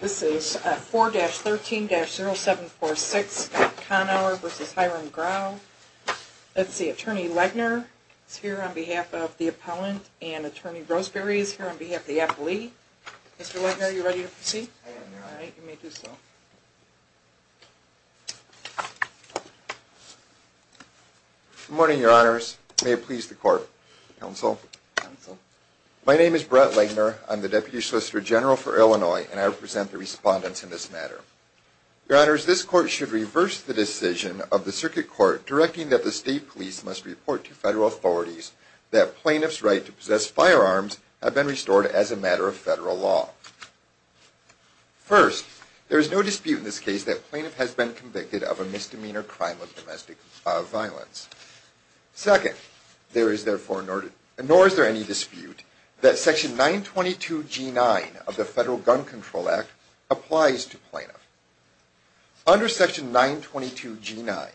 This is 4-13-0746 Connour v. Hiram Grau. Let's see, Attorney Legner is here on behalf of the appellant, and Attorney Roseberry is here on behalf of the appellee. Mr. Legner, are you ready to proceed? I am. All right, you may do so. Good morning, Your Honors. May it please the Court. Counsel. Counsel. My name is Brett Legner. I'm the Deputy Solicitor General for Illinois, and I represent the respondents in this matter. Your Honors, this Court should reverse the decision of the Circuit Court directing that the State Police must report to Federal authorities that plaintiffs' right to possess firearms have been restored as a matter of Federal law. First, there is no dispute in this case that a plaintiff has been convicted of a misdemeanor crime of domestic violence. Second, nor is there any dispute that Section 922G9 of the Federal Gun Control Act applies to plaintiffs. Under Section 922G9,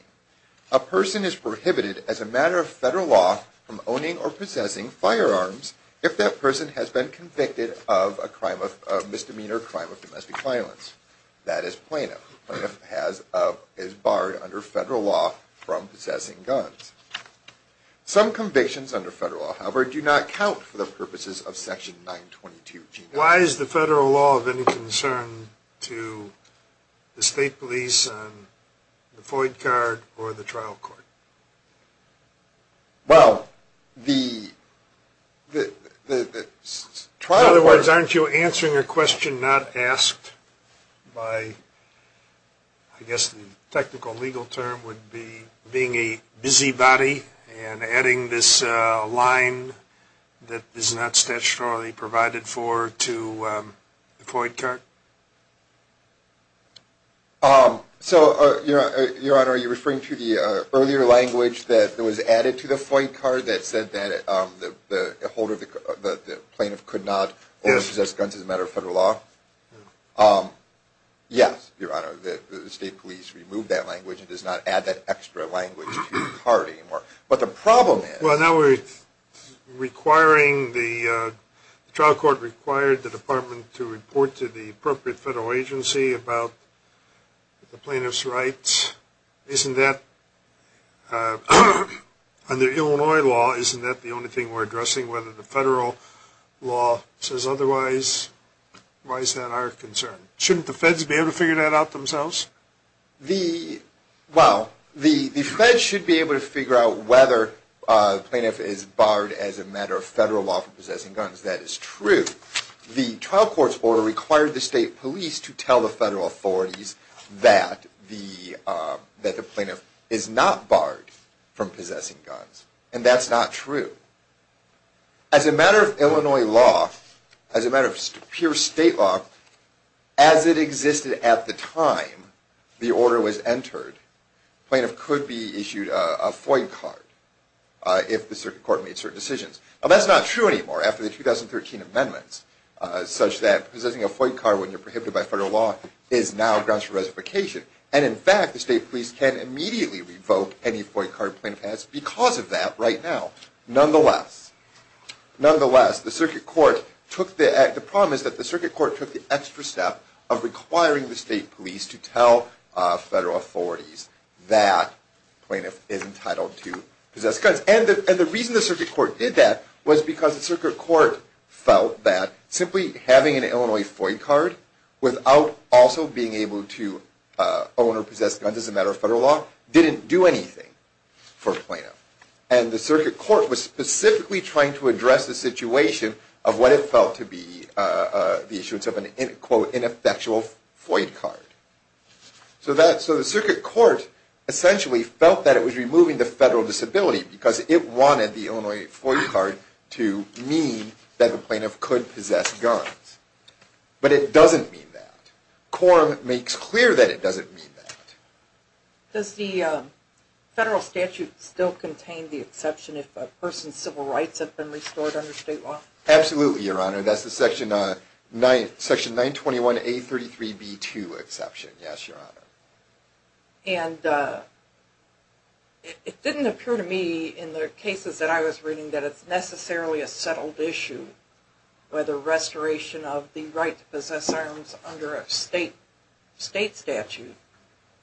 a person is prohibited as a matter of Federal law from owning or possessing firearms if that person has been convicted of a misdemeanor crime of domestic violence. That is, a plaintiff is barred under Federal law from possessing guns. Some convictions under Federal law, however, do not count for the purposes of Section 922G9. Why is the Federal law of any concern to the State Police on the FOID card or the trial court? Well, the trial court... In other words, aren't you answering a question not asked by, I guess the technical legal term would be, being a busybody and adding this line that is not statutorily provided for to the FOID card? So, Your Honor, are you referring to the earlier language that was added to the FOID card that said that the plaintiff could not own or possess guns as a matter of Federal law? Yes, Your Honor, the State Police removed that language and does not add that extra language to the card anymore. But the problem is... Well, now we're requiring... The trial court required the Department to report to the appropriate Federal agency about the plaintiff's rights. Isn't that... Under Illinois law, isn't that the only thing we're addressing, whether the Federal law says otherwise? Why is that our concern? Shouldn't the Feds be able to figure that out themselves? Well, the Feds should be able to figure out whether the plaintiff is barred as a matter of Federal law from possessing guns. That is true. The trial court's order required the State Police to tell the Federal authorities that the plaintiff is not barred from possessing guns. And that's not true. As a matter of Illinois law, as a matter of pure State law, as it existed at the time the order was entered, the plaintiff could be issued a FOID card if the circuit court made certain decisions. Well, that's not true anymore, after the 2013 amendments, such that possessing a FOID card when you're prohibited by Federal law is now a grounds for reservation. And, in fact, the State Police can immediately revoke any FOID card the plaintiff has because of that right now. Nonetheless, the circuit court took the extra step of requiring the State Police to tell Federal authorities that the plaintiff is entitled to possess guns. And the reason the circuit court did that was because the circuit court felt that simply having an Illinois FOID card without also being able to own or possess guns as a matter of Federal law didn't do anything for a plaintiff. And the circuit court was specifically trying to address the situation of what it felt to be the issuance of an, quote, ineffectual FOID card. So the circuit court essentially felt that it was removing the Federal disability because it wanted the Illinois FOID card to mean that the plaintiff could possess guns. But it doesn't mean that. Quorum makes clear that it doesn't mean that. Does the Federal statute still contain the exception if a person's civil rights have been restored under State law? Absolutely, Your Honor. That's the Section 921A33B2 exception, yes, Your Honor. And it didn't appear to me in the cases that I was reading that it's necessarily a settled issue where the restoration of the right to possess arms under a State statute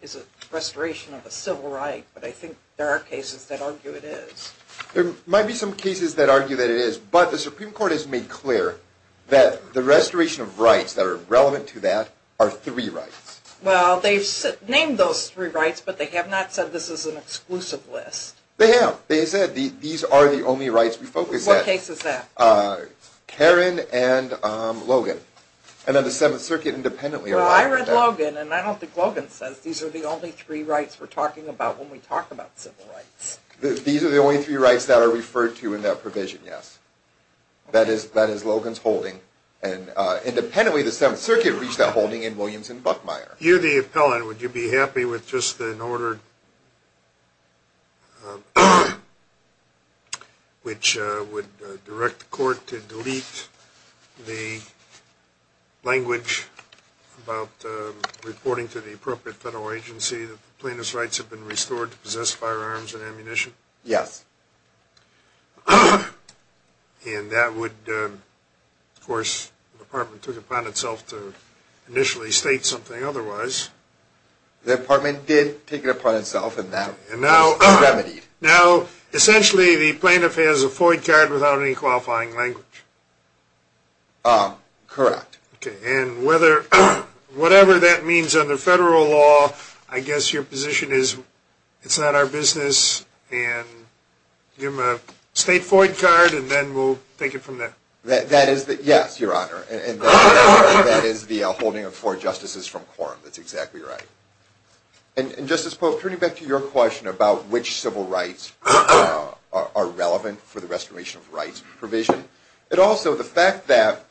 is a restoration of a civil right. But I think there are cases that argue it is. There might be some cases that argue that it is. But the Supreme Court has made clear that the restoration of rights that are relevant to that are three rights. Well, they've named those three rights, but they have not said this is an exclusive list. They have. They said these are the only rights we focus on. What case is that? Karen and Logan. And then the Seventh Circuit independently arrived at that. Well, I read Logan, and I don't think Logan says these are the only three rights we're talking about when we talk about civil rights. These are the only three rights that are referred to in that provision, yes. That is Logan's holding. And independently, the Seventh Circuit reached that holding in Williams and Buckmeyer. You're the appellant. Would you be happy with just an order which would direct the court to delete the language about reporting to the appropriate federal agency that plaintiff's rights have been restored to possess firearms and ammunition? Yes. And that would, of course, the department took it upon itself to initially state something otherwise. The department did take it upon itself, and that was remedied. Now, essentially, the plaintiff has a FOIA card without any qualifying language. Correct. And whatever that means under federal law, I guess your position is it's not our business, and give him a state FOIA card, and then we'll take it from there. Yes, Your Honor. And that is the holding of four justices from quorum. That's exactly right. And, Justice Polk, turning back to your question about which civil rights are relevant for the restoration of rights provision, and also the fact that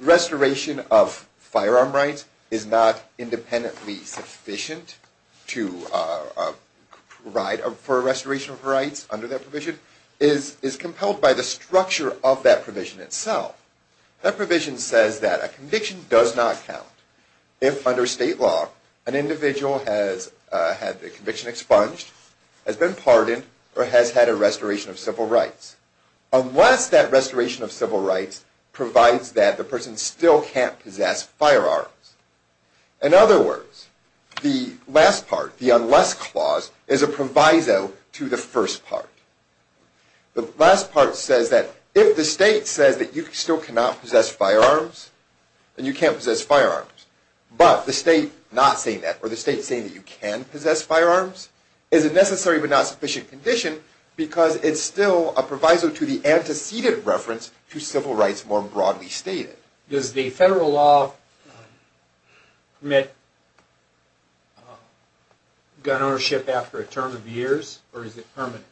restoration of firearm rights is not independently sufficient for restoration of rights under that provision is compelled by the structure of that provision itself. That provision says that a conviction does not count if, under state law, an individual has had their conviction expunged, has been pardoned, or has had a restoration of civil rights. Unless that restoration of civil rights provides that the person still can't possess firearms. In other words, the last part, the unless clause, is a proviso to the first part. The last part says that if the state says that you still cannot possess firearms, and you can't possess firearms, but the state not saying that, or the state saying that you can possess firearms, is a necessary but not sufficient condition, because it's still a proviso to the antecedent reference to civil rights more broadly stated. Does the federal law permit gun ownership after a term of years, or is it permanent?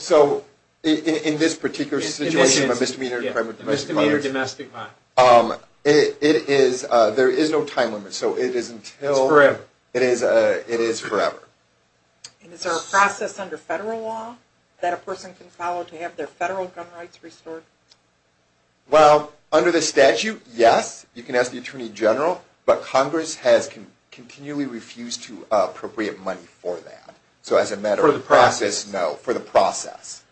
So, in this particular situation of a misdemeanor crime of domestic violence, Misdemeanor domestic violence. It is, there is no time limit, so it is until It's forever. It is forever. Is there a process under federal law that a person can follow to have their federal gun rights restored? Well, under the statute, yes, you can ask the Attorney General, but Congress has continually refused to appropriate money for that. For the process? No, for the process.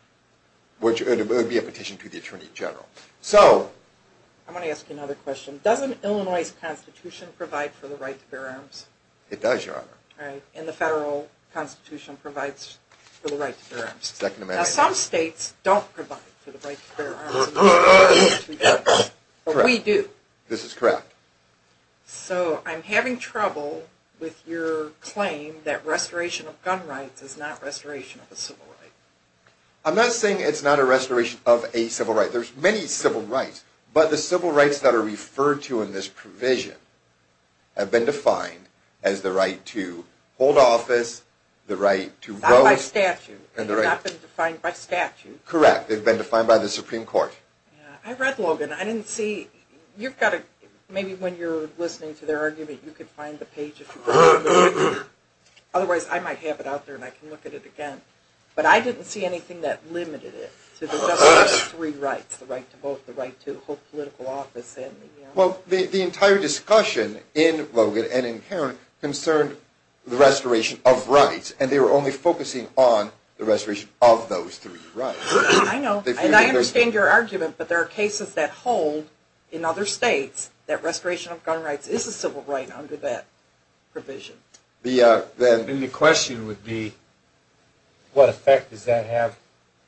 Which would be a petition to the Attorney General. I'm going to ask you another question. Doesn't Illinois' Constitution provide for the right to bear arms? It does, Your Honor. And the federal Constitution provides for the right to bear arms. Second Amendment. Now, some states don't provide for the right to bear arms, but we do. This is correct. So, I'm having trouble with your claim that restoration of gun rights is not restoration of a civil right. I'm not saying it's not a restoration of a civil right. There's many civil rights, but the civil rights that are referred to in this provision have been defined as the right to hold office, the right to vote. Not by statute. They've not been defined by statute. Correct. They've been defined by the Supreme Court. I read Logan. I didn't see, you've got to, maybe when you're listening to their argument, you can find the page if you want. Otherwise, I might have it out there and I can look at it again. But I didn't see anything that limited it to the right to vote, the right to hold political office. Well, the entire discussion in Logan and in Kerrin concerned the restoration of rights, and they were only focusing on the restoration of those three rights. I know. And I understand your argument, but there are cases that hold in other states that restoration of gun rights is a civil right under that provision. And the question would be, what effect does that have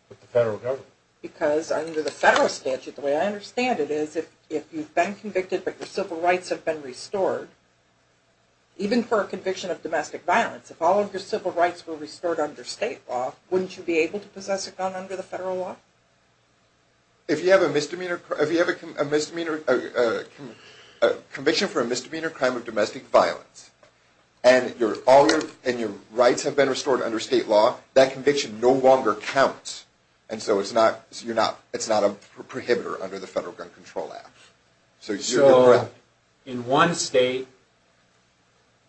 with the federal government? Because under the federal statute, the way I understand it is, if you've been convicted but your civil rights have been restored, even for a conviction of domestic violence, if all of your civil rights were restored under state law, wouldn't you be able to possess a gun under the federal law? If you have a conviction for a misdemeanor crime of domestic violence and your rights have been restored under state law, that conviction no longer counts. And so it's not a prohibitor under the Federal Gun Control Act. So in one state,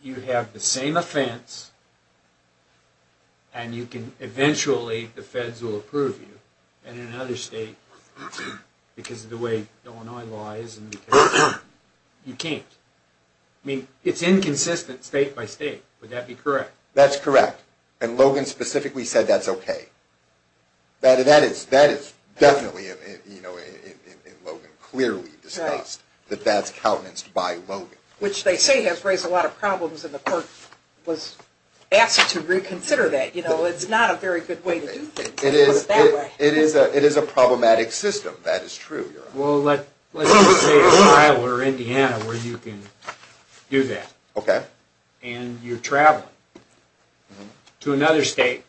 you have the same offense, and eventually the feds will approve you. And in another state, because of the way Illinois lies, you can't. I mean, it's inconsistent state by state. Would that be correct? That's correct. And Logan specifically said that's okay. That is definitely, in Logan, clearly discussed, that that's countenanced by Logan. Which they say has raised a lot of problems, and the court was asked to reconsider that. You know, it's not a very good way to do things. It is a problematic system. That is true. Well, let's say Ohio or Indiana where you can do that. Okay. And you're traveling to another state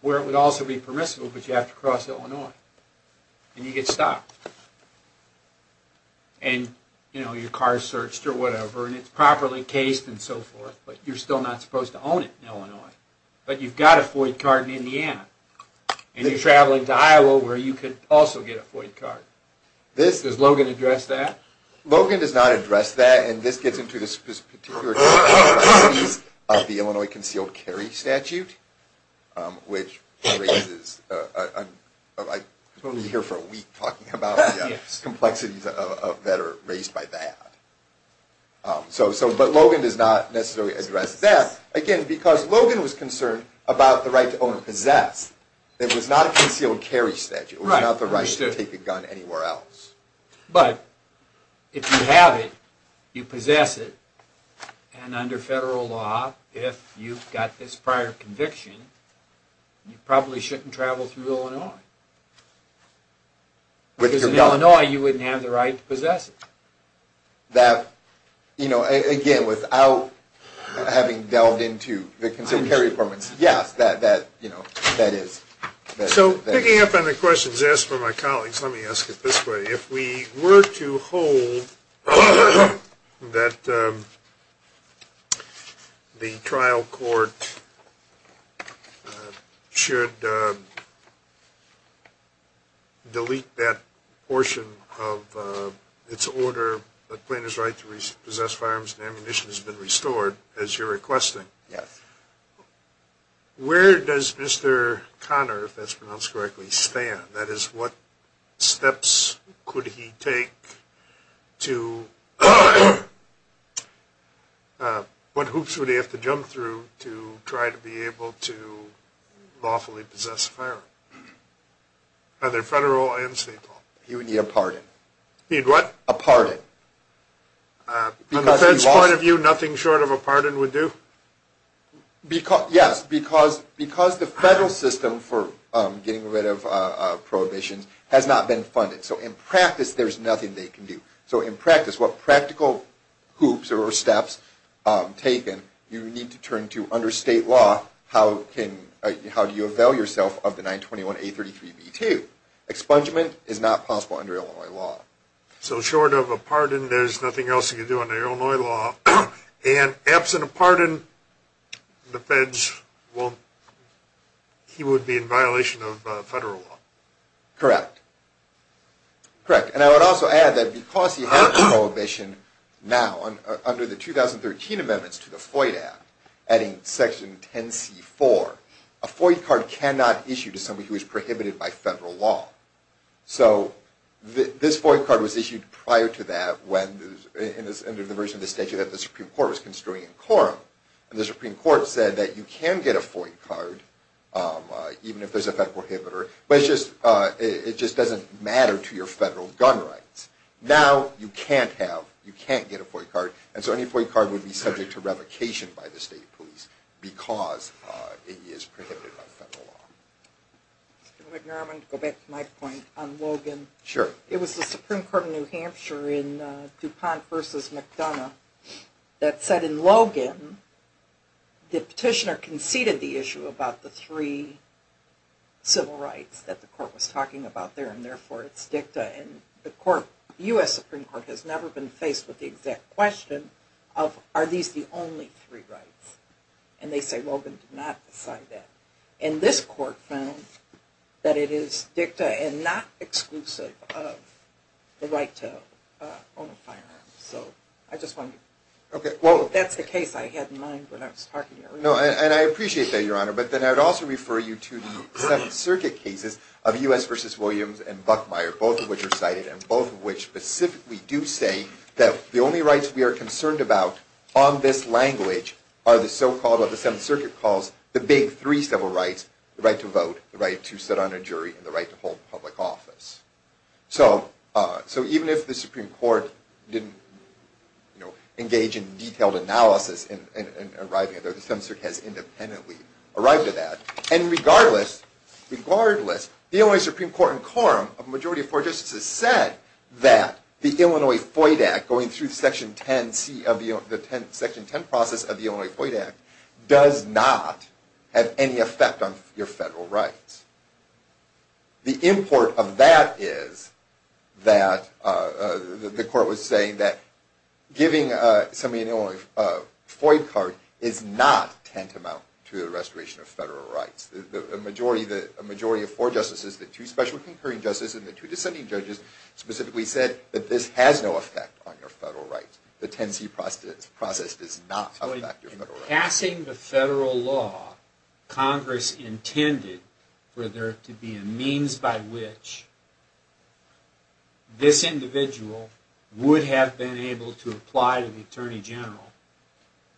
where it would also be permissible, but you have to cross Illinois. And you get stopped. And, you know, your car is searched or whatever, and it's properly cased and so forth, but you're still not supposed to own it in Illinois. But you've got a FOID card in Indiana. And you're traveling to Iowa where you could also get a FOID card. Does Logan address that? Logan does not address that. And this gets into this particular case of the Illinois Concealed Carry Statute, which raises, I could be here for a week talking about the complexities that are raised by that. But Logan does not necessarily address that. Again, because Logan was concerned about the right to own and possess. It was not a concealed carry statute. It was not the right to take a gun anywhere else. But if you have it, you possess it, and under federal law, if you've got this prior conviction, you probably shouldn't travel through Illinois. Because in Illinois, you wouldn't have the right to possess it. That, you know, again, without having delved into the concealed carry permits, yes, that is. So picking up on the questions asked by my colleagues, let me ask it this way. If we were to hold that the trial court should delete that portion of its order, the plaintiff's right to possess firearms and ammunition has been restored, as you're requesting. Yes. Where does Mr. Connor, if that's pronounced correctly, stand? That is, what steps could he take to – what hoops would he have to jump through to try to be able to lawfully possess a firearm? Either federal or state law. He would need a pardon. He'd what? A pardon. From the fed's point of view, nothing short of a pardon would do? Yes, because the federal system for getting rid of prohibitions has not been funded. So in practice, there's nothing they can do. So in practice, what practical hoops or steps taken, you need to turn to under state law, how do you avail yourself of the 921A33B2? Expungement is not possible under Illinois law. So short of a pardon, there's nothing else you can do under Illinois law. And absent a pardon, the feds won't – he would be in violation of federal law. Correct. Correct. And I would also add that because he had a prohibition now under the 2013 amendments to the FOIA Act, adding Section 10c4, a FOIA card cannot be issued to somebody who is prohibited by federal law. So this FOIA card was issued prior to that under the version of the statute that the Supreme Court was construing in quorum. And the Supreme Court said that you can get a FOIA card even if there's a fed prohibitor, but it just doesn't matter to your federal gun rights. Now you can't have – you can't get a FOIA card, and so any FOIA card would be subject to revocation by the state police because it is prohibited by federal law. Mr. McDermott, to go back to my point on Logan. Sure. It was the Supreme Court of New Hampshire in DuPont v. McDonough that said in Logan the petitioner conceded the issue about the three civil rights that the court was talking about there, and therefore it's dicta. And the court – the U.S. Supreme Court has never been faced with the exact question of are these the only three rights? And they say Logan did not decide that. And this court found that it is dicta and not exclusive of the right to own a firearm. So I just wanted to – well, that's the case I had in mind when I was talking earlier. No, and I appreciate that, Your Honor, but then I would also refer you to the Seventh Circuit cases of U.S. v. Williams and Buckmeyer, both of which are cited and both of which specifically do say that the only rights we are concerned about on this language are the so-called – what the Seventh Circuit calls the big three civil rights, the right to vote, the right to sit on a jury, and the right to hold public office. So even if the Supreme Court didn't engage in detailed analysis in arriving at that, the Seventh Circuit has independently arrived at that. And regardless, the only Supreme Court in quorum of a majority of four justices said that the Illinois FOID Act, going through the Section 10 process of the Illinois FOID Act, does not have any effect on your federal rights. The import of that is that the court was saying that giving somebody an Illinois FOID card is not tantamount to the restoration of federal rights. A majority of four justices, the two special concurring justices, and the two dissenting judges specifically said that this has no effect on your federal rights. The 10C process does not affect your federal rights. In passing the federal law, Congress intended for there to be a means by which this individual would have been able to apply to the Attorney General.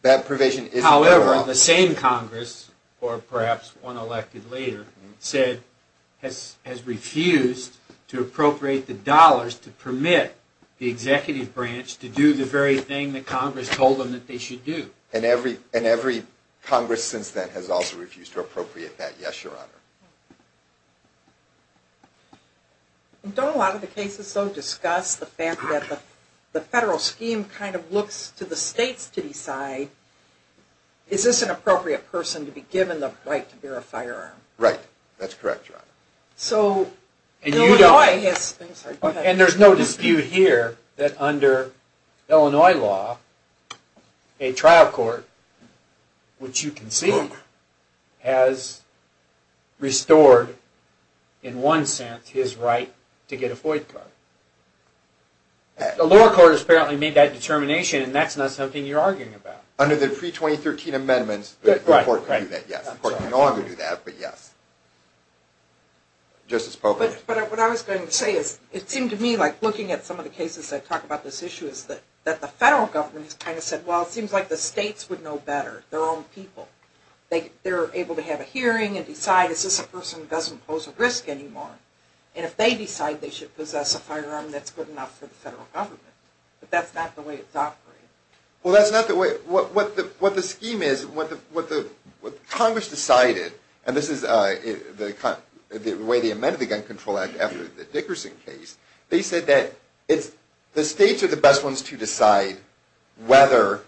However, the same Congress, or perhaps one elected later, has refused to appropriate the dollars to permit the executive branch to do the very thing that Congress told them that they should do. And every Congress since then has also refused to appropriate that. Yes, Your Honor. Don't a lot of the cases, though, discuss the fact that the federal scheme kind of looks to the states to decide, is this an appropriate person to be given the right to bear a firearm? Right. That's correct, Your Honor. And there's no dispute here that under Illinois law, a trial court, which you can see, has restored, in one sense, his right to get a FOID card. The lower court has apparently made that determination, and that's not something you're arguing about. Under the pre-2013 amendments, the court can do that, yes. The court can no longer do that, but yes. Justice Pope. But what I was going to say is, it seemed to me like, looking at some of the cases that talk about this issue, is that the federal government has kind of said, well, it seems like the states would know better, their own people. They're able to have a hearing and decide, is this a person who doesn't pose a risk anymore? And if they decide they should possess a firearm, that's good enough for the federal government. But that's not the way it's operated. Well, that's not the way, what the scheme is, what Congress decided, and this is the way they amended the Gun Control Act after the Dickerson case, they said that the states are the best ones to decide whether,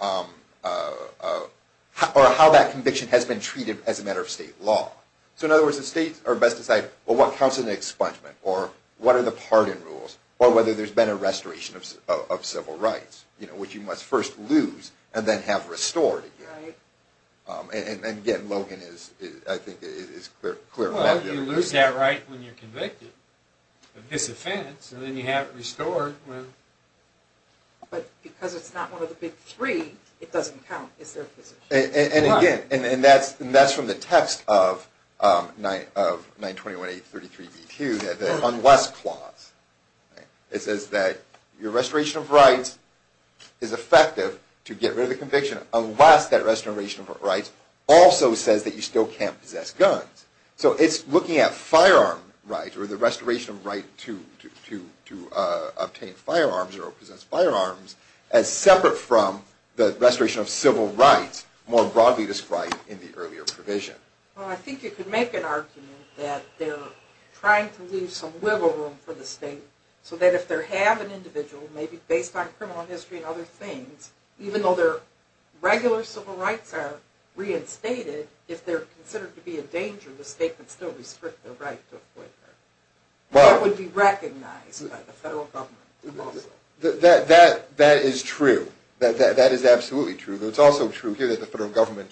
or how that conviction has been treated as a matter of state law. So in other words, the states are best to decide, well, what counts as an expungement, or what are the pardon rules, or whether there's been a restoration of civil rights, which you must first lose, and then have restored again. And again, Logan is, I think, is clear about that. Well, you lose that right when you're convicted of this offense, and then you have it restored. But because it's not one of the big three, it doesn't count as their position. And again, and that's from the text of 921-833-V2, the unless clause. It says that your restoration of rights is effective to get rid of the conviction unless that restoration of rights also says that you still can't possess guns. So it's looking at firearm rights, or the restoration of right to obtain firearms, as separate from the restoration of civil rights more broadly described in the earlier provision. Well, I think you could make an argument that they're trying to leave some wiggle room for the state, so that if they have an individual, maybe based on criminal history and other things, even though their regular civil rights are reinstated, if they're considered to be a danger, the state can still restrict their right to acquit them. That would be recognized by the federal government. That is true. That is absolutely true. But it's also true here that the federal government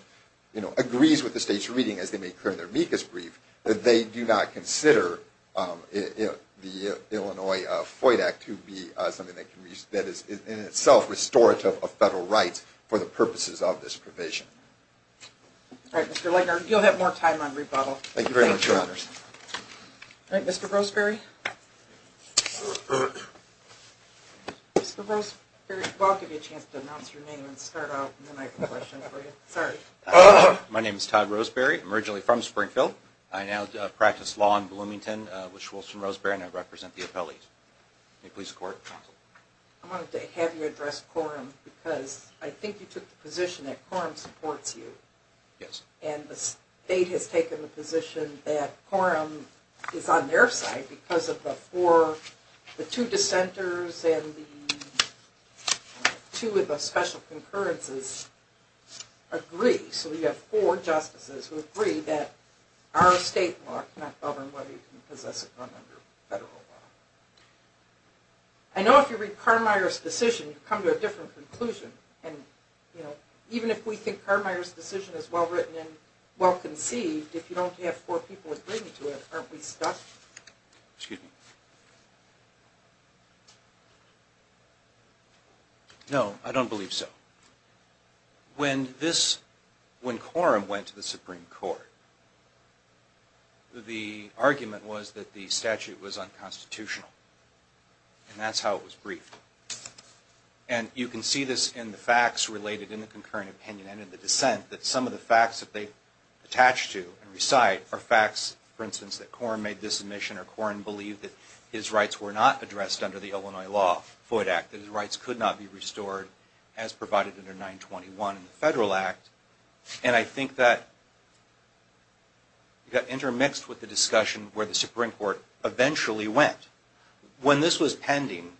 agrees with the state's reading, as they make clear in their MECAS brief, that they do not consider the Illinois FOID Act to be something that is in itself restorative of federal rights for the purposes of this provision. All right, Mr. Legner, you'll have more time on rebuttal. Thank you very much, Your Honors. All right, Mr. Roseberry. Mr. Roseberry, if I could give you a chance to announce your name and start off, and then I have a question for you. Sorry. My name is Todd Roseberry. I'm originally from Springfield. I now practice law in Bloomington with Schultz and Roseberry, and I represent the appellees. May it please the Court. Counsel. I wanted to have you address quorum, because I think you took the position that quorum supports you. Yes. And the state has taken the position that quorum is on their side, because the two dissenters and the two of the special concurrences agree. So we have four justices who agree that our state law cannot govern whether you can possess a gun under federal law. I know if you read Carmier's decision, you come to a different conclusion. Even if we think Carmier's decision is well-written and well-conceived, if you don't have four people agreeing to it, aren't we stuck? No, I don't believe so. When quorum went to the Supreme Court, the argument was that the statute was unconstitutional, and that's how it was briefed. And you can see this in the facts related in the concurrent opinion and in the dissent, that some of the facts that they attach to and recite are facts, for instance, that quorum made this admission, or quorum believed that his rights were not addressed under the Illinois law, the Floyd Act, that his rights could not be restored as provided under 921 in the federal act. And I think that you got intermixed with the discussion where the Supreme Court eventually went. When this was pending,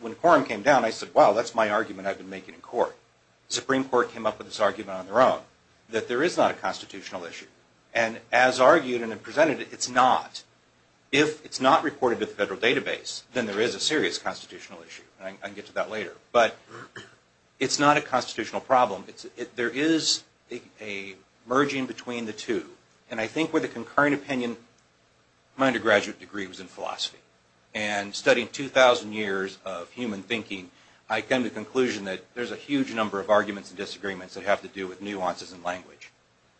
when quorum came down, I said, well, that's my argument I've been making in court. The Supreme Court came up with this argument on their own, that there is not a constitutional issue. And as argued and presented, it's not. If it's not reported to the federal database, then there is a serious constitutional issue. And I can get to that later. But it's not a constitutional problem. There is a merging between the two. And I think with the concurrent opinion, my undergraduate degree was in philosophy. And studying 2,000 years of human thinking, I came to the conclusion that there's a huge number of arguments and disagreements that have to do with nuances in language,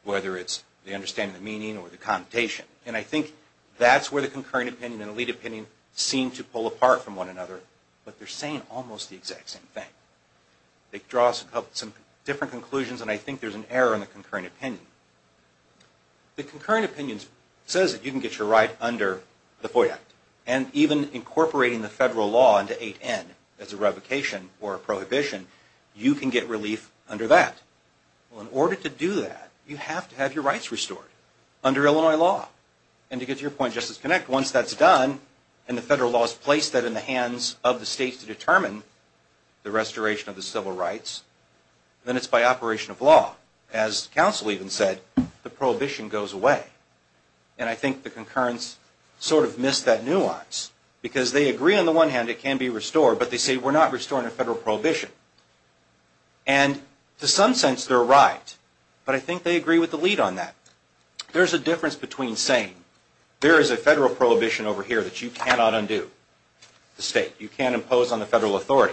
whether it's the understanding of meaning or the connotation. And I think that's where the concurrent opinion and elite opinion seem to pull apart from one another, but they're saying almost the exact same thing. They draw some different conclusions, and I think there's an error in the concurrent opinion. The concurrent opinion says that you can get your right under the FOIA Act. And even incorporating the federal law into 8N as a revocation or a prohibition, you can get relief under that. Well, in order to do that, you have to have your rights restored under Illinois law. And to get to your point, Justice Connect, once that's done, and the federal law is placed in the hands of the states to determine the restoration of the civil rights, then it's by operation of law. As counsel even said, the prohibition goes away. And I think the concurrence sort of missed that nuance, because they agree on the one hand it can be restored, but they say we're not restoring a federal prohibition. And to some sense they're right, but I think they agree with the lead on that. There's a difference between saying there is a federal prohibition over here that you cannot undo. You can't impose on the federal authority.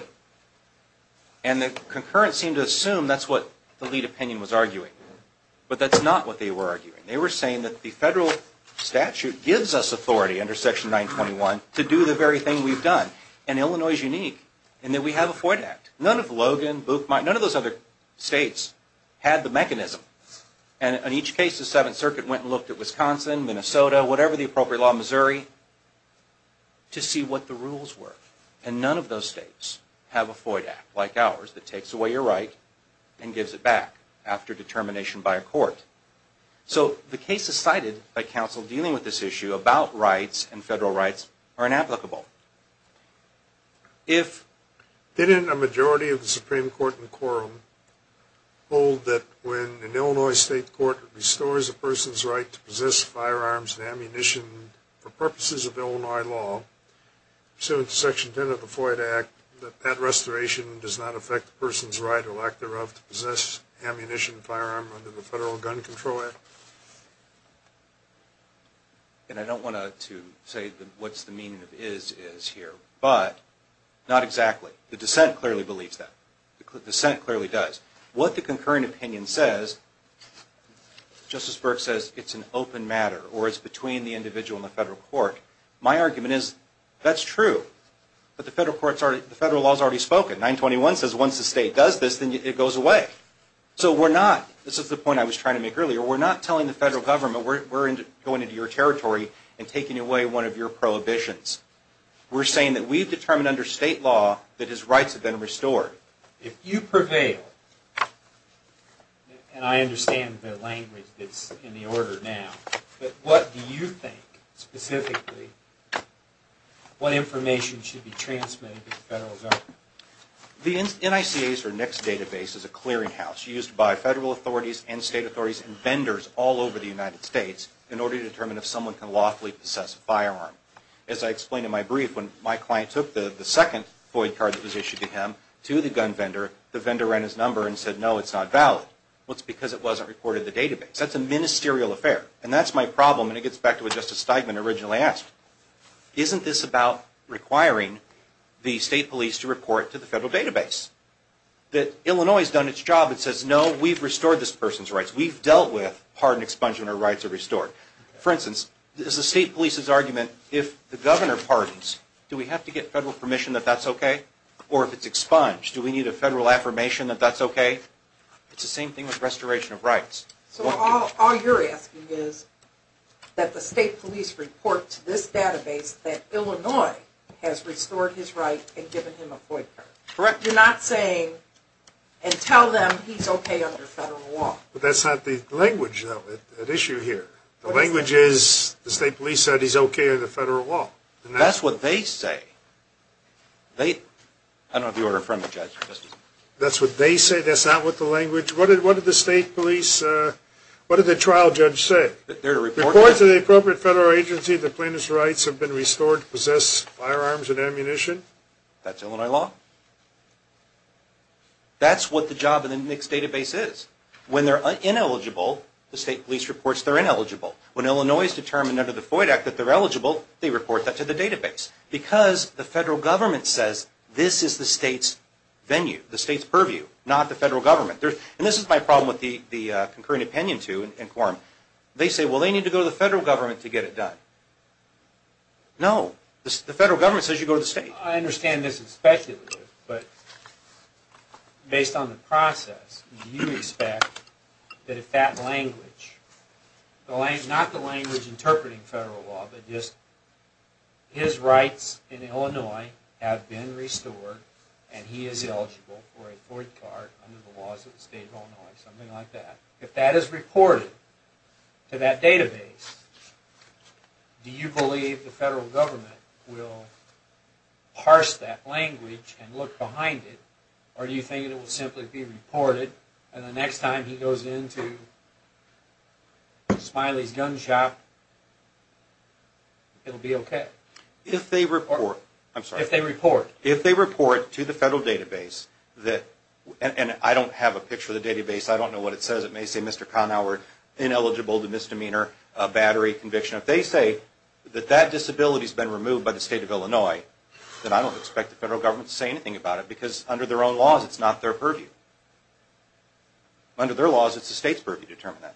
And the concurrence seemed to assume that's what the lead opinion was arguing. But that's not what they were arguing. They were saying that the federal statute gives us authority under Section 921 to do the very thing we've done. And Illinois is unique in that we have a FOIA Act. None of Logan, Booth, none of those other states had the mechanism. And in each case the Seventh Circuit went and looked at Wisconsin, Minnesota, whatever the appropriate law in Missouri, to see what the rules were. And none of those states have a FOIA Act like ours that takes away your right and gives it back after determination by a court. So the cases cited by counsel dealing with this issue about rights and federal rights are inapplicable. If... Didn't a majority of the Supreme Court in the quorum hold that when an Illinois state court restores a person's right to possess firearms and ammunition for purposes of Illinois law, pursuant to Section 10 of the FOIA Act, that that restoration does not affect the person's right or lack thereof to possess ammunition and firearm under the Federal Gun Control Act? And I don't want to say what's the meaning of is, is here. But not exactly. The dissent clearly believes that. The dissent clearly does. What the concurring opinion says, Justice Burke says it's an open matter or it's between the individual and the federal court. My argument is that's true. But the federal court's already... The federal law's already spoken. 921 says once the state does this then it goes away. So we're not... This is the point I was trying to make earlier. We're not telling the federal government we're going into your territory and taking away one of your prohibitions. We're saying that we've determined under state law that his rights have been restored. If you prevail, and I understand the language that's in the order now, but what do you think specifically what information should be transmitted to the federal government? The NICAs or NICS database is a clearinghouse used by federal authorities and state authorities and vendors all over the United States in order to determine if someone can lawfully possess a firearm. As I explained in my brief, when my client took the second FOIA card that was issued to him to the gun vendor, the vendor ran his number and said, no, it's not valid. Well, it's because it wasn't reported in the database. That's a ministerial affair. And that's my problem, and it gets back to what Justice Steigman originally asked. Isn't this about requiring the state police to report to the federal database? That Illinois has done its job and says, no, we've restored this person's rights. We've dealt with pardon expungement or rights are restored. For instance, is the state police's argument, if the governor pardons, do we have to get federal permission that that's okay? Or if it's expunged, do we need a federal affirmation that that's okay? It's the same thing with restoration of rights. So all you're asking is that the state police report to this database that Illinois has restored his right and given him a FOIA card. Correct? You're not saying, and tell them he's okay under federal law. But that's not the language, though, at issue here. The language is the state police said he's okay under federal law. That's what they say. I don't know if you were a friendly judge. That's what they say. That's not what the language. What did the state police, what did the trial judge say? Report to the appropriate federal agency that plaintiff's rights have been restored to possess firearms and ammunition. That's Illinois law. That's what the job of the NICS database is. When they're ineligible, the state police reports they're ineligible. When Illinois is determined under the FOIA Act that they're eligible, they report that to the database. Because the federal government says this is the state's venue, the state's purview, not the federal government. And this is my problem with the concurring opinion to and quorum. They say, well, they need to go to the federal government to get it done. No. The federal government says you go to the state. I understand this is speculative, but based on the process, do you expect that if that language, not the language interpreting federal law, but just his rights in Illinois have been restored and he is eligible for a fourth card under the laws of the state of Illinois, something like that, if that is reported to that database, do you believe the federal government will parse that language and look behind it, or do you think it will simply be reported, and the next time he goes into Smiley's Gun Shop, it will be okay? If they report. I'm sorry. If they report. If they report to the federal database, and I don't have a picture of the database. I don't know what it says. It may say Mr. Kahnauer ineligible to misdemeanor battery conviction. If they say that that disability has been removed by the state of Illinois, then I don't expect the federal government to say anything about it because under their own laws, it's not their purview. Under their laws, it's the state's purview to determine that.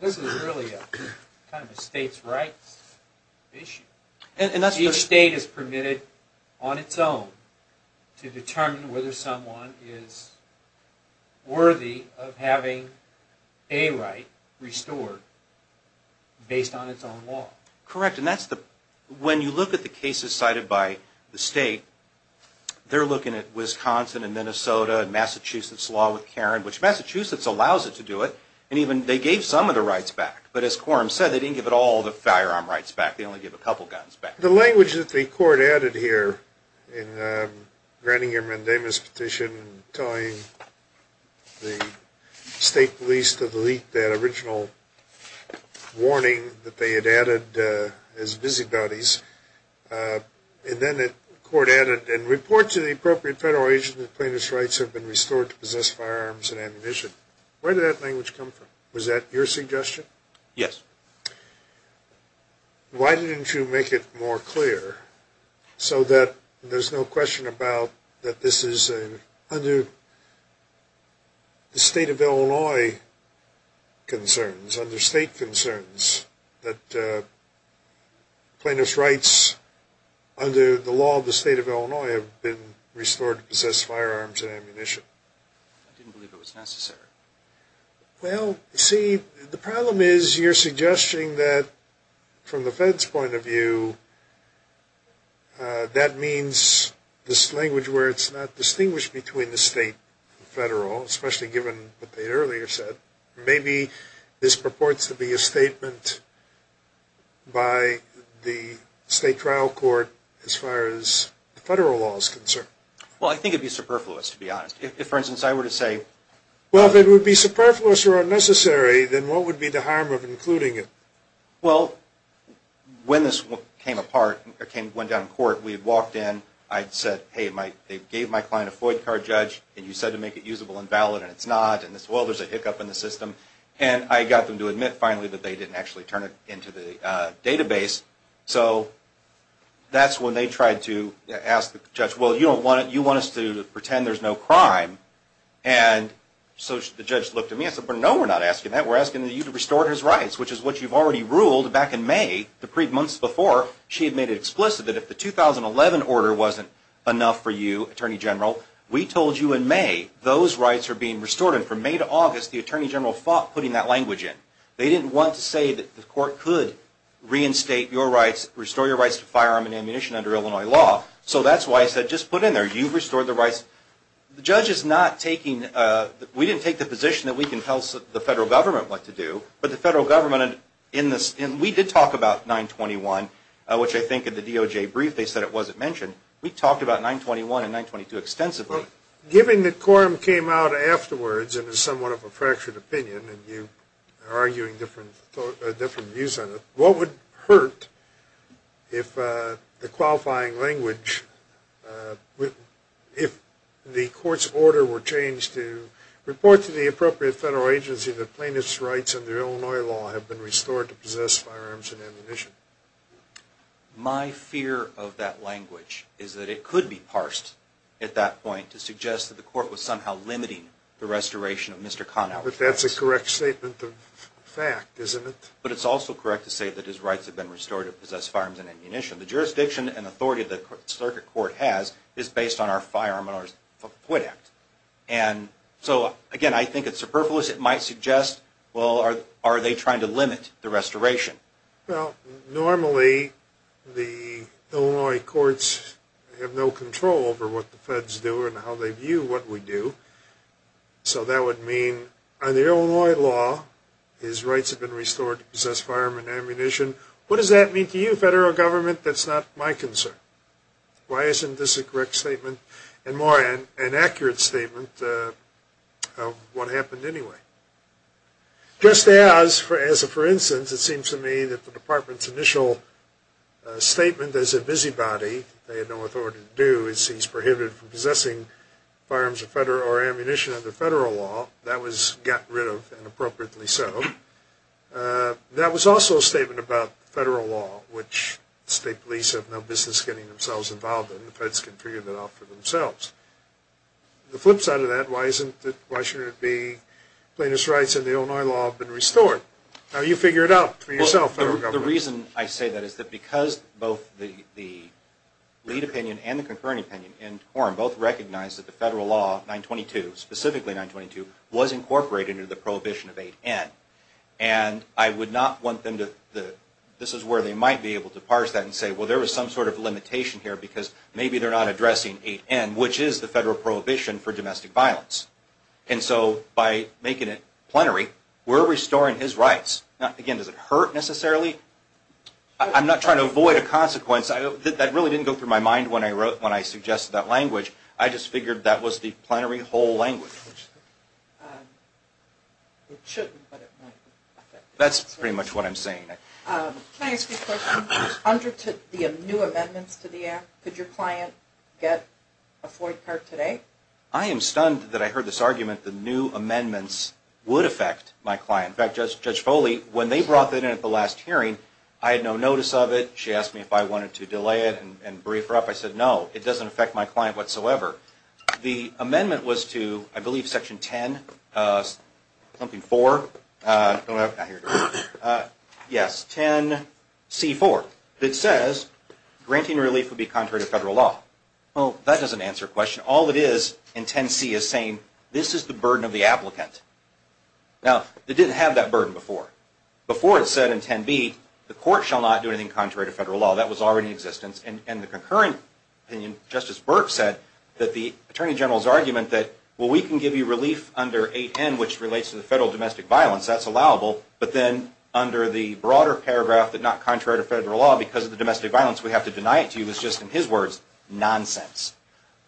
This is really kind of a state's rights issue. Each state is permitted on its own to determine whether someone is worthy of having a right restored based on its own law. Correct. When you look at the cases cited by the state, they're looking at Wisconsin and Minnesota and Massachusetts' law with Karen, which Massachusetts allows it to do it, and even they gave some of the rights back, but as Quorum said, they didn't give all the firearm rights back. They only gave a couple of guns back. The language that the court added here in Granninger-Mendema's petition telling the state police to delete that original warning that they had added as busybodies, and then the court added, and report to the appropriate federal agent that plaintiff's rights have been restored to possess firearms and ammunition. Where did that language come from? Was that your suggestion? Yes. Why didn't you make it more clear so that there's no question about that this is under the state of Illinois concerns, under state concerns, that plaintiff's rights under the law of the state of Illinois have been restored to possess firearms and ammunition? I didn't believe it was necessary. Well, see, the problem is you're suggesting that from the Fed's point of view, that means this language where it's not distinguished between the state and federal, especially given what they earlier said. Maybe this purports to be a statement by the state trial court as far as federal law is concerned. Well, I think it would be superfluous, to be honest. If, for instance, I were to say, Well, if it would be superfluous or unnecessary, then what would be the harm of including it? Well, when this came apart, went down in court, we had walked in. I'd said, hey, they gave my client a FOIA card, Judge, and you said to make it usable and valid, and it's not, and, well, there's a hiccup in the system. And I got them to admit finally that they didn't actually turn it into the database. So that's when they tried to ask the judge, well, you don't want it. You want us to pretend there's no crime. And so the judge looked at me and said, well, no, we're not asking that. We're asking you to restore his rights, which is what you've already ruled back in May, the months before she had made it explicit that if the 2011 order wasn't enough for you, Attorney General, we told you in May those rights are being restored. And from May to August, the Attorney General fought putting that language in. They didn't want to say that the court could reinstate your rights, restore your rights to firearm and ammunition under Illinois law. So that's why I said just put in there, you've restored the rights. The judge is not taking, we didn't take the position that we can tell the federal government what to do, but the federal government in this, and we did talk about 921, which I think in the DOJ brief, they said it wasn't mentioned. We talked about 921 and 922 extensively. Given that quorum came out afterwards and is somewhat of a fractured opinion and you are arguing different views on it, what would hurt if the qualifying language, if the court's order were changed to report to the appropriate federal agency that plaintiff's rights under Illinois law have been restored to possess firearms and ammunition? My fear of that language is that it could be parsed at that point to suggest that the court was somehow limiting the restoration of Mr. Conoway's rights. Well, but that's a correct statement of fact, isn't it? But it's also correct to say that his rights have been restored to possess firearms and ammunition. The jurisdiction and authority that the circuit court has is based on our firearm and our FOOT Act. And so, again, I think it's superfluous. It might suggest, well, are they trying to limit the restoration? Well, normally the Illinois courts have no control over what the feds do and how they view what we do. So that would mean under Illinois law, his rights have been restored to possess firearms and ammunition. What does that mean to you, federal government? That's not my concern. Why isn't this a correct statement and more an accurate statement of what happened anyway? Just as, for instance, it seems to me that the department's initial statement as a busybody, they had no authority to do, is he's prohibited from possessing firearms or ammunition under federal law. That was gotten rid of and appropriately so. That was also a statement about federal law, which state police have no business getting themselves involved in. The feds can figure that out for themselves. The flip side of that, why shouldn't it be plaintiff's rights in the Illinois law have been restored? How do you figure it out for yourself, federal government? Well, the reason I say that is because both the lead opinion and the concurrent opinion in quorum both recognize that the federal law, 922, specifically 922, was incorporated into the prohibition of 8N. And I would not want them to, this is where they might be able to parse that and say, well, there was some sort of limitation here because maybe they're not addressing 8N, which is the federal prohibition for domestic violence. And so by making it plenary, we're restoring his rights. Now, again, does it hurt necessarily? I'm not trying to avoid a consequence. That really didn't go through my mind when I wrote, when I suggested that language. I just figured that was the plenary whole language. That's pretty much what I'm saying. Can I ask you a question? Under the new amendments to the Act, could your client get a Ford car today? I am stunned that I heard this argument that new amendments would affect my client. In fact, Judge Foley, when they brought that in at the last hearing, I had no notice of it. She asked me if I wanted to delay it and brief her up. I said, no, it doesn't affect my client whatsoever. The amendment was to, I believe, Section 10, something 4, yes, 10C4, that says granting relief would be contrary to federal law. Well, that doesn't answer the question. All it is in 10C is saying this is the burden of the applicant. Now, it didn't have that burden before. Before it said in 10B, the court shall not do anything contrary to federal law. That was already in existence. In the concurrent opinion, Justice Burke said that the Attorney General's argument that, well, we can give you relief under 8N, which relates to the federal domestic violence. That's allowable. But then under the broader paragraph that not contrary to federal law because of the domestic violence, we have to deny it to you is just, in his words, nonsense.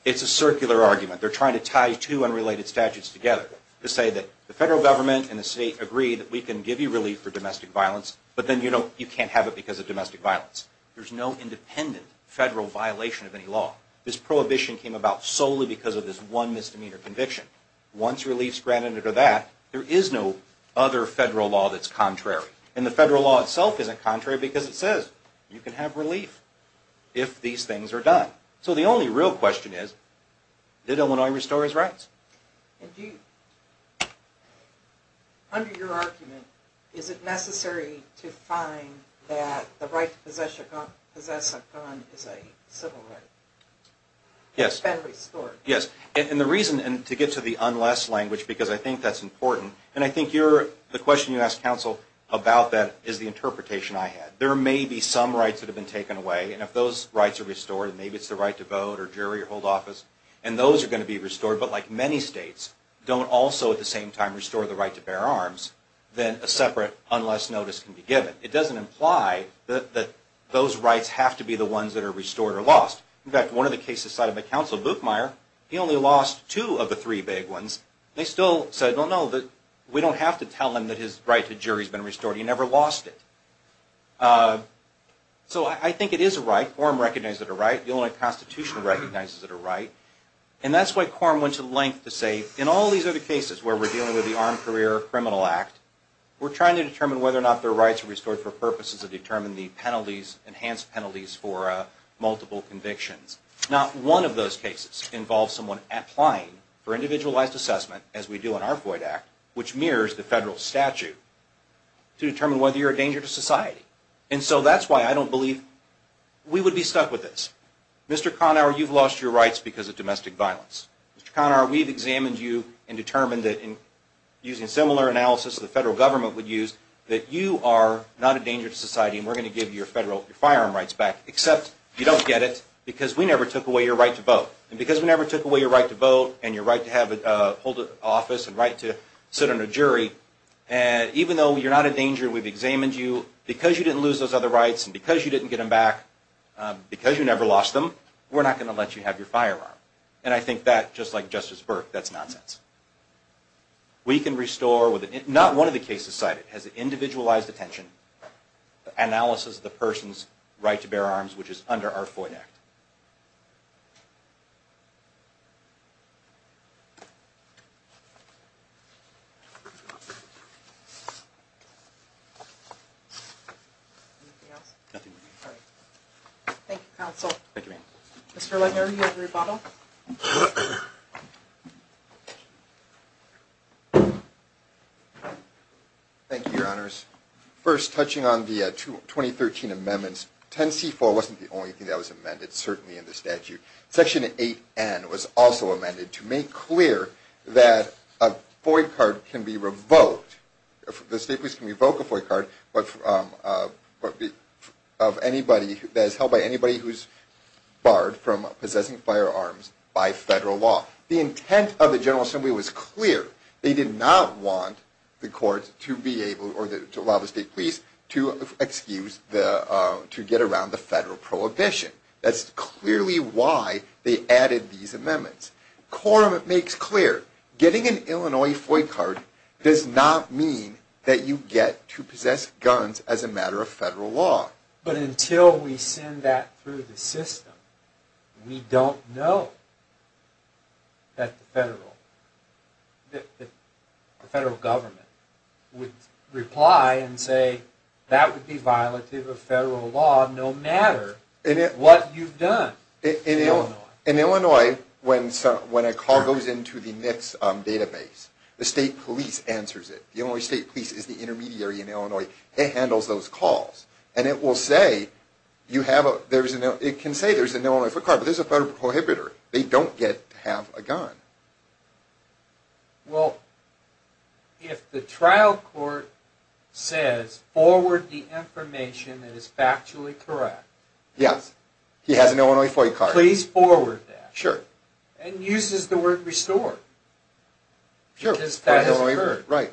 It's a circular argument. They're trying to tie two unrelated statutes together to say that the federal government and the state agree that we can give you relief for domestic violence, but then you can't have it because of domestic violence. There's no independent federal violation of any law. This prohibition came about solely because of this one misdemeanor conviction. Once relief's granted under that, there is no other federal law that's contrary. And the federal law itself isn't contrary because it says you can have relief if these things are done. So the only real question is, did Illinois restore his rights? And do you, under your argument, is it necessary to find that the right to possess a gun is a civil right? Yes. It's been restored. Yes. And the reason, and to get to the unless language because I think that's important, and I think the question you asked counsel about that is the interpretation I had. There may be some rights that have been taken away, and if those rights are restored, maybe it's the right to vote or jury or hold office, and those are going to be restored, but like many states, don't also at the same time restore the right to bear arms, then a separate unless notice can be given. It doesn't imply that those rights have to be the ones that are restored or lost. In fact, one of the cases cited by counsel, Buchmeier, he only lost two of the three big ones. They still said, well, no, we don't have to tell him that his right to jury has been restored. He never lost it. So I think it is a right. Quorum recognizes it a right. The only constitution recognizes it a right, and that's why quorum went to the length to say in all these other cases where we're dealing with the Armed Career Criminal Act, we're trying to determine whether or not their rights are restored for purposes of determining the enhanced penalties for multiple convictions. Not one of those cases involves someone applying for individualized assessment, as we do in our FOID Act, which mirrors the federal statute, to determine whether you're a danger to society. And so that's why I don't believe we would be stuck with this. Mr. Conower, you've lost your rights because of domestic violence. Mr. Conower, we've examined you and determined that in using similar analysis that the federal government would use, that you are not a danger to society and we're going to give you your firearm rights back, except you don't get it because we never took away your right to vote. And because we never took away your right to vote and your right to hold an office and right to sit on a jury, even though you're not a danger, we've examined you. Because you didn't lose those other rights and because you didn't get them back, because you never lost them, we're not going to let you have your firearm. And I think that, just like Justice Burke, that's nonsense. We can restore, not one of the cases cited, has individualized attention, analysis of the person's right to bear arms, which is under our FOIA Act. Thank you, Your Honors. First, touching on the 2013 amendments, 10C4 wasn't the only thing that was amended, certainly in the statute. Section 8N was also amended to make clear that a FOIA card can be revoked. The state police can revoke a FOIA card that is held by anybody who is barred from possessing firearms by federal law. The intent of the General Assembly was clear. They did not want the courts to allow the state police to get around the federal prohibition. That's clearly why they added these amendments. Quorum makes clear, getting an Illinois FOIA card does not mean that you get to possess guns as a matter of federal law. But until we send that through the system, we don't know that the federal government would reply and say that would be violative of federal law, no matter what you've done. In Illinois, when a call goes into the MIPS database, the state police answers it. The Illinois State Police is the intermediary in Illinois. It handles those calls, and it can say there's an Illinois FOIA card, but there's a federal prohibitor. They don't get to have a gun. Well, if the trial court says, forward the information that is factually correct. Yes, he has an Illinois FOIA card. Please forward that. Sure. And uses the word restored, because that has occurred. Right.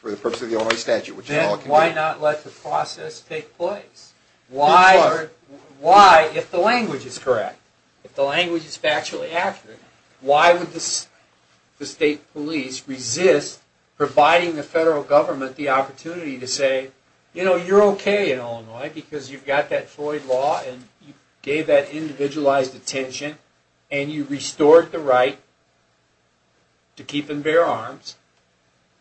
For the purpose of the Illinois statute. Then why not let the process take place? Why, if the language is correct, if the language is factually accurate, why would the state police resist providing the federal government the opportunity to say, you know, you're okay in Illinois because you've got that FOIA law, and you gave that individualized attention, and you restored the right to keep and bear arms,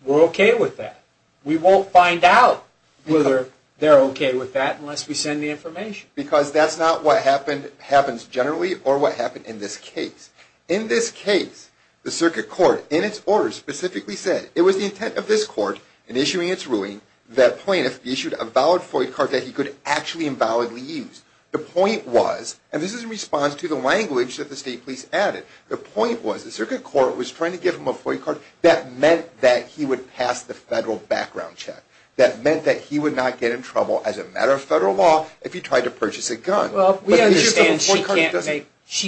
we're okay with that. We won't find out whether they're okay with that unless we send the information. Because that's not what happens generally or what happened in this case. In this case, the circuit court, in its order, specifically said, it was the intent of this court, in issuing its ruling, that plaintiff issued a valid FOIA card that he could actually and validly use. The point was, and this is in response to the language that the state police added, the point was the circuit court was trying to give him a FOIA card that meant that he would pass the federal background check. That meant that he would not get in trouble as a matter of federal law if he tried to purchase a gun. Well, we understand she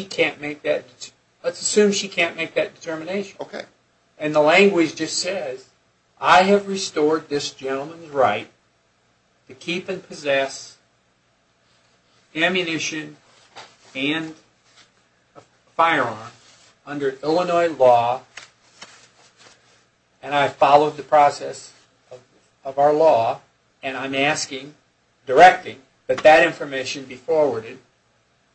can't make that, let's assume she can't make that determination. Okay. And the language just says, I have restored this gentleman's right to keep and possess ammunition and a firearm under Illinois law, and I followed the process of our law, and I'm asking, directing, that that information be forwarded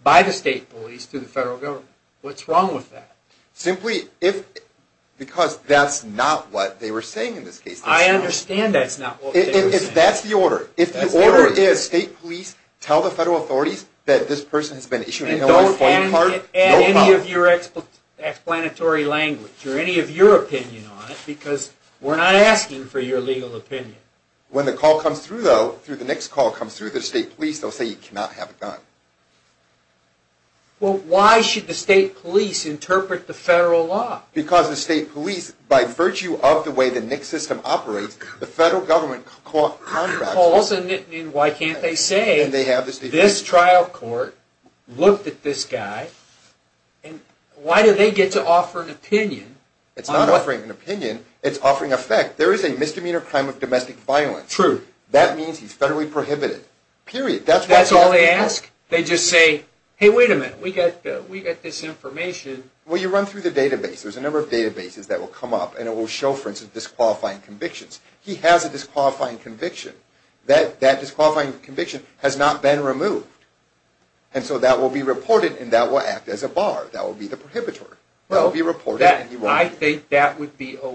by the state police to the federal government. What's wrong with that? Simply, because that's not what they were saying in this case. I understand that's not what they were saying. That's the order. That's the order. If the order is state police tell the federal authorities that this person has been issued an Illinois FOIA card, no problem. And don't add any of your explanatory language or any of your opinion on it, because we're not asking for your legal opinion. When the call comes through, though, the next call comes through the state police, they'll say you cannot have a gun. Well, why should the state police interpret the federal law? Because the state police, by virtue of the way the NICS system operates, the federal government contracts it. Why can't they say this trial court looked at this guy, and why do they get to offer an opinion? It's not offering an opinion, it's offering effect. There is a misdemeanor crime of domestic violence. True. That means he's federally prohibited. Period. That's all they ask? They just say, hey, wait a minute, we got this information. Well, you run through the database. There's a number of databases that will come up, and it will show, for instance, disqualifying convictions. He has a disqualifying conviction. That disqualifying conviction has not been removed. And so that will be reported, and that will act as a bar. That will be the prohibitor. That will be reported, and he won't be. You're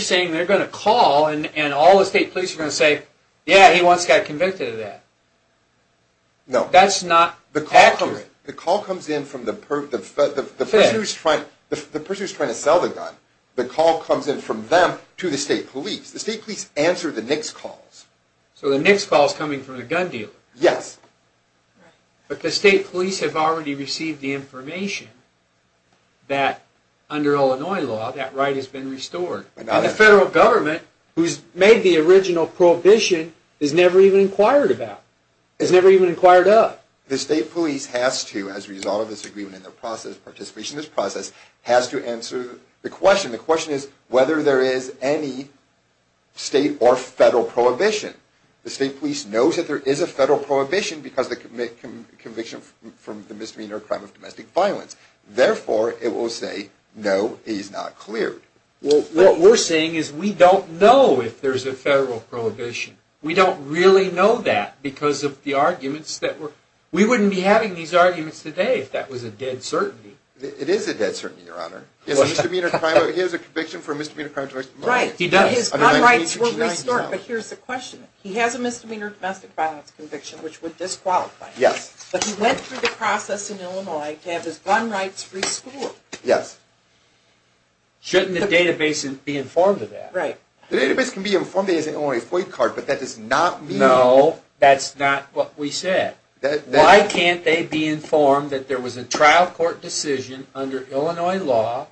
saying they're going to call, and all the state police are going to say, yeah, he once got convicted of that. No. That's not accurate. The call comes in from the person who's trying to sell the gun. The call comes in from them to the state police. The state police answer the NICS calls. So the NICS call is coming from the gun dealer. Yes. But the state police have already received the information that, under Illinois law, that right has been restored. And the federal government, who's made the original prohibition, is never even inquired about. It's never even inquired up. The state police has to, as a result of this agreement and their participation in this process, has to answer the question. The question is whether there is any state or federal prohibition. The state police knows that there is a federal prohibition because of the conviction from the misdemeanor crime of domestic violence. Therefore, it will say, no, it is not cleared. Well, what we're saying is we don't know if there's a federal prohibition. We don't really know that because of the arguments that were – we wouldn't be having these arguments today if that was a dead certainty. It is a dead certainty, Your Honor. He has a conviction for a misdemeanor crime of domestic violence. Right. He does. But here's the question. He has a misdemeanor domestic violence conviction, which would disqualify him. Yes. But he went through the process in Illinois to have his gun rights rescored. Yes. Shouldn't the database be informed of that? Right. The database can be informed of that as an Illinois FOIA card, but that does not mean – No, that's not what we said. Why can't they be informed that there was a trial court decision under Illinois law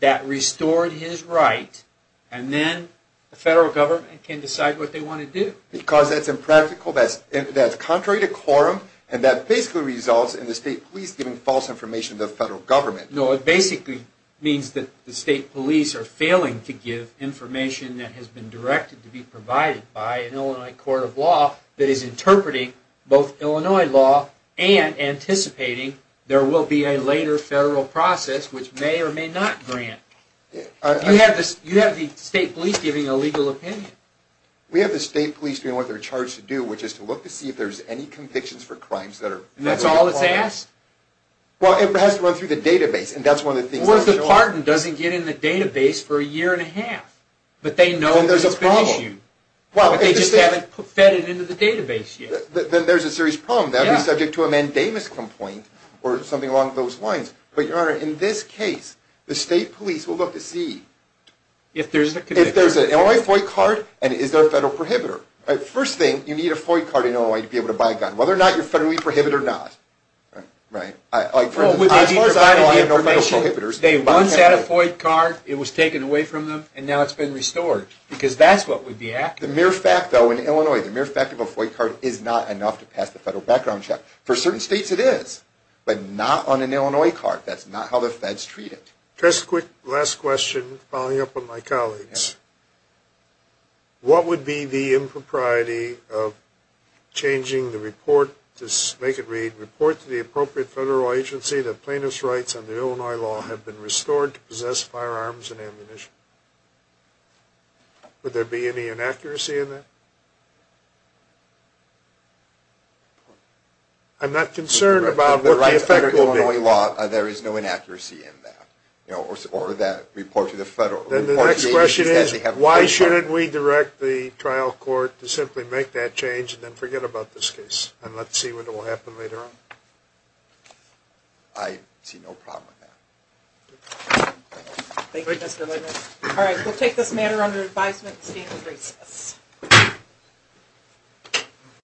that restored his right, and then the federal government can decide what they want to do? Because that's impractical, that's contrary to quorum, and that basically results in the state police giving false information to the federal government. No, it basically means that the state police are failing to give information that has been directed to be provided by an Illinois court of law that is interpreting both Illinois law and anticipating there will be a later federal process which may or may not grant. You have the state police giving a legal opinion. We have the state police doing what they're charged to do, which is to look to see if there's any convictions for crimes that are – And that's all that's asked? Well, it has to run through the database, and that's one of the things – Worth the pardon doesn't get in the database for a year and a half, but they know that it's been issued. Then there's a problem. But they just haven't fed it into the database yet. Then there's a serious problem. That would be subject to a mandamus complaint or something along those lines. But, Your Honor, in this case, the state police will look to see – If there's a conviction. If there's an Illinois FOIA card, and is there a federal prohibitor. First thing, you need a FOIA card in Illinois to be able to buy a gun, whether or not you're federally prohibited or not. As far as I know, I have no federal prohibitors. They once had a FOIA card. It was taken away from them, and now it's been restored, because that's what would be accurate. The mere fact, though, in Illinois, the mere fact of a FOIA card is not enough to pass the federal background check. For certain states, it is, but not on an Illinois card. That's not how the feds treat it. Just a quick last question, following up on my colleagues. What would be the impropriety of changing the report to make it read, report to the appropriate federal agency that plaintiff's rights under Illinois law have been restored to possess firearms and ammunition? Would there be any inaccuracy in that? I'm not concerned about what the effect will be. In Illinois law, there is no inaccuracy in that, or that report to the federal agency. Then the next question is, why shouldn't we direct the trial court to simply make that change and then forget about this case, and let's see what will happen later on? I see no problem with that. Thank you, Mr. Littner. All right, we'll take this matter under advisement. The stand is recessed.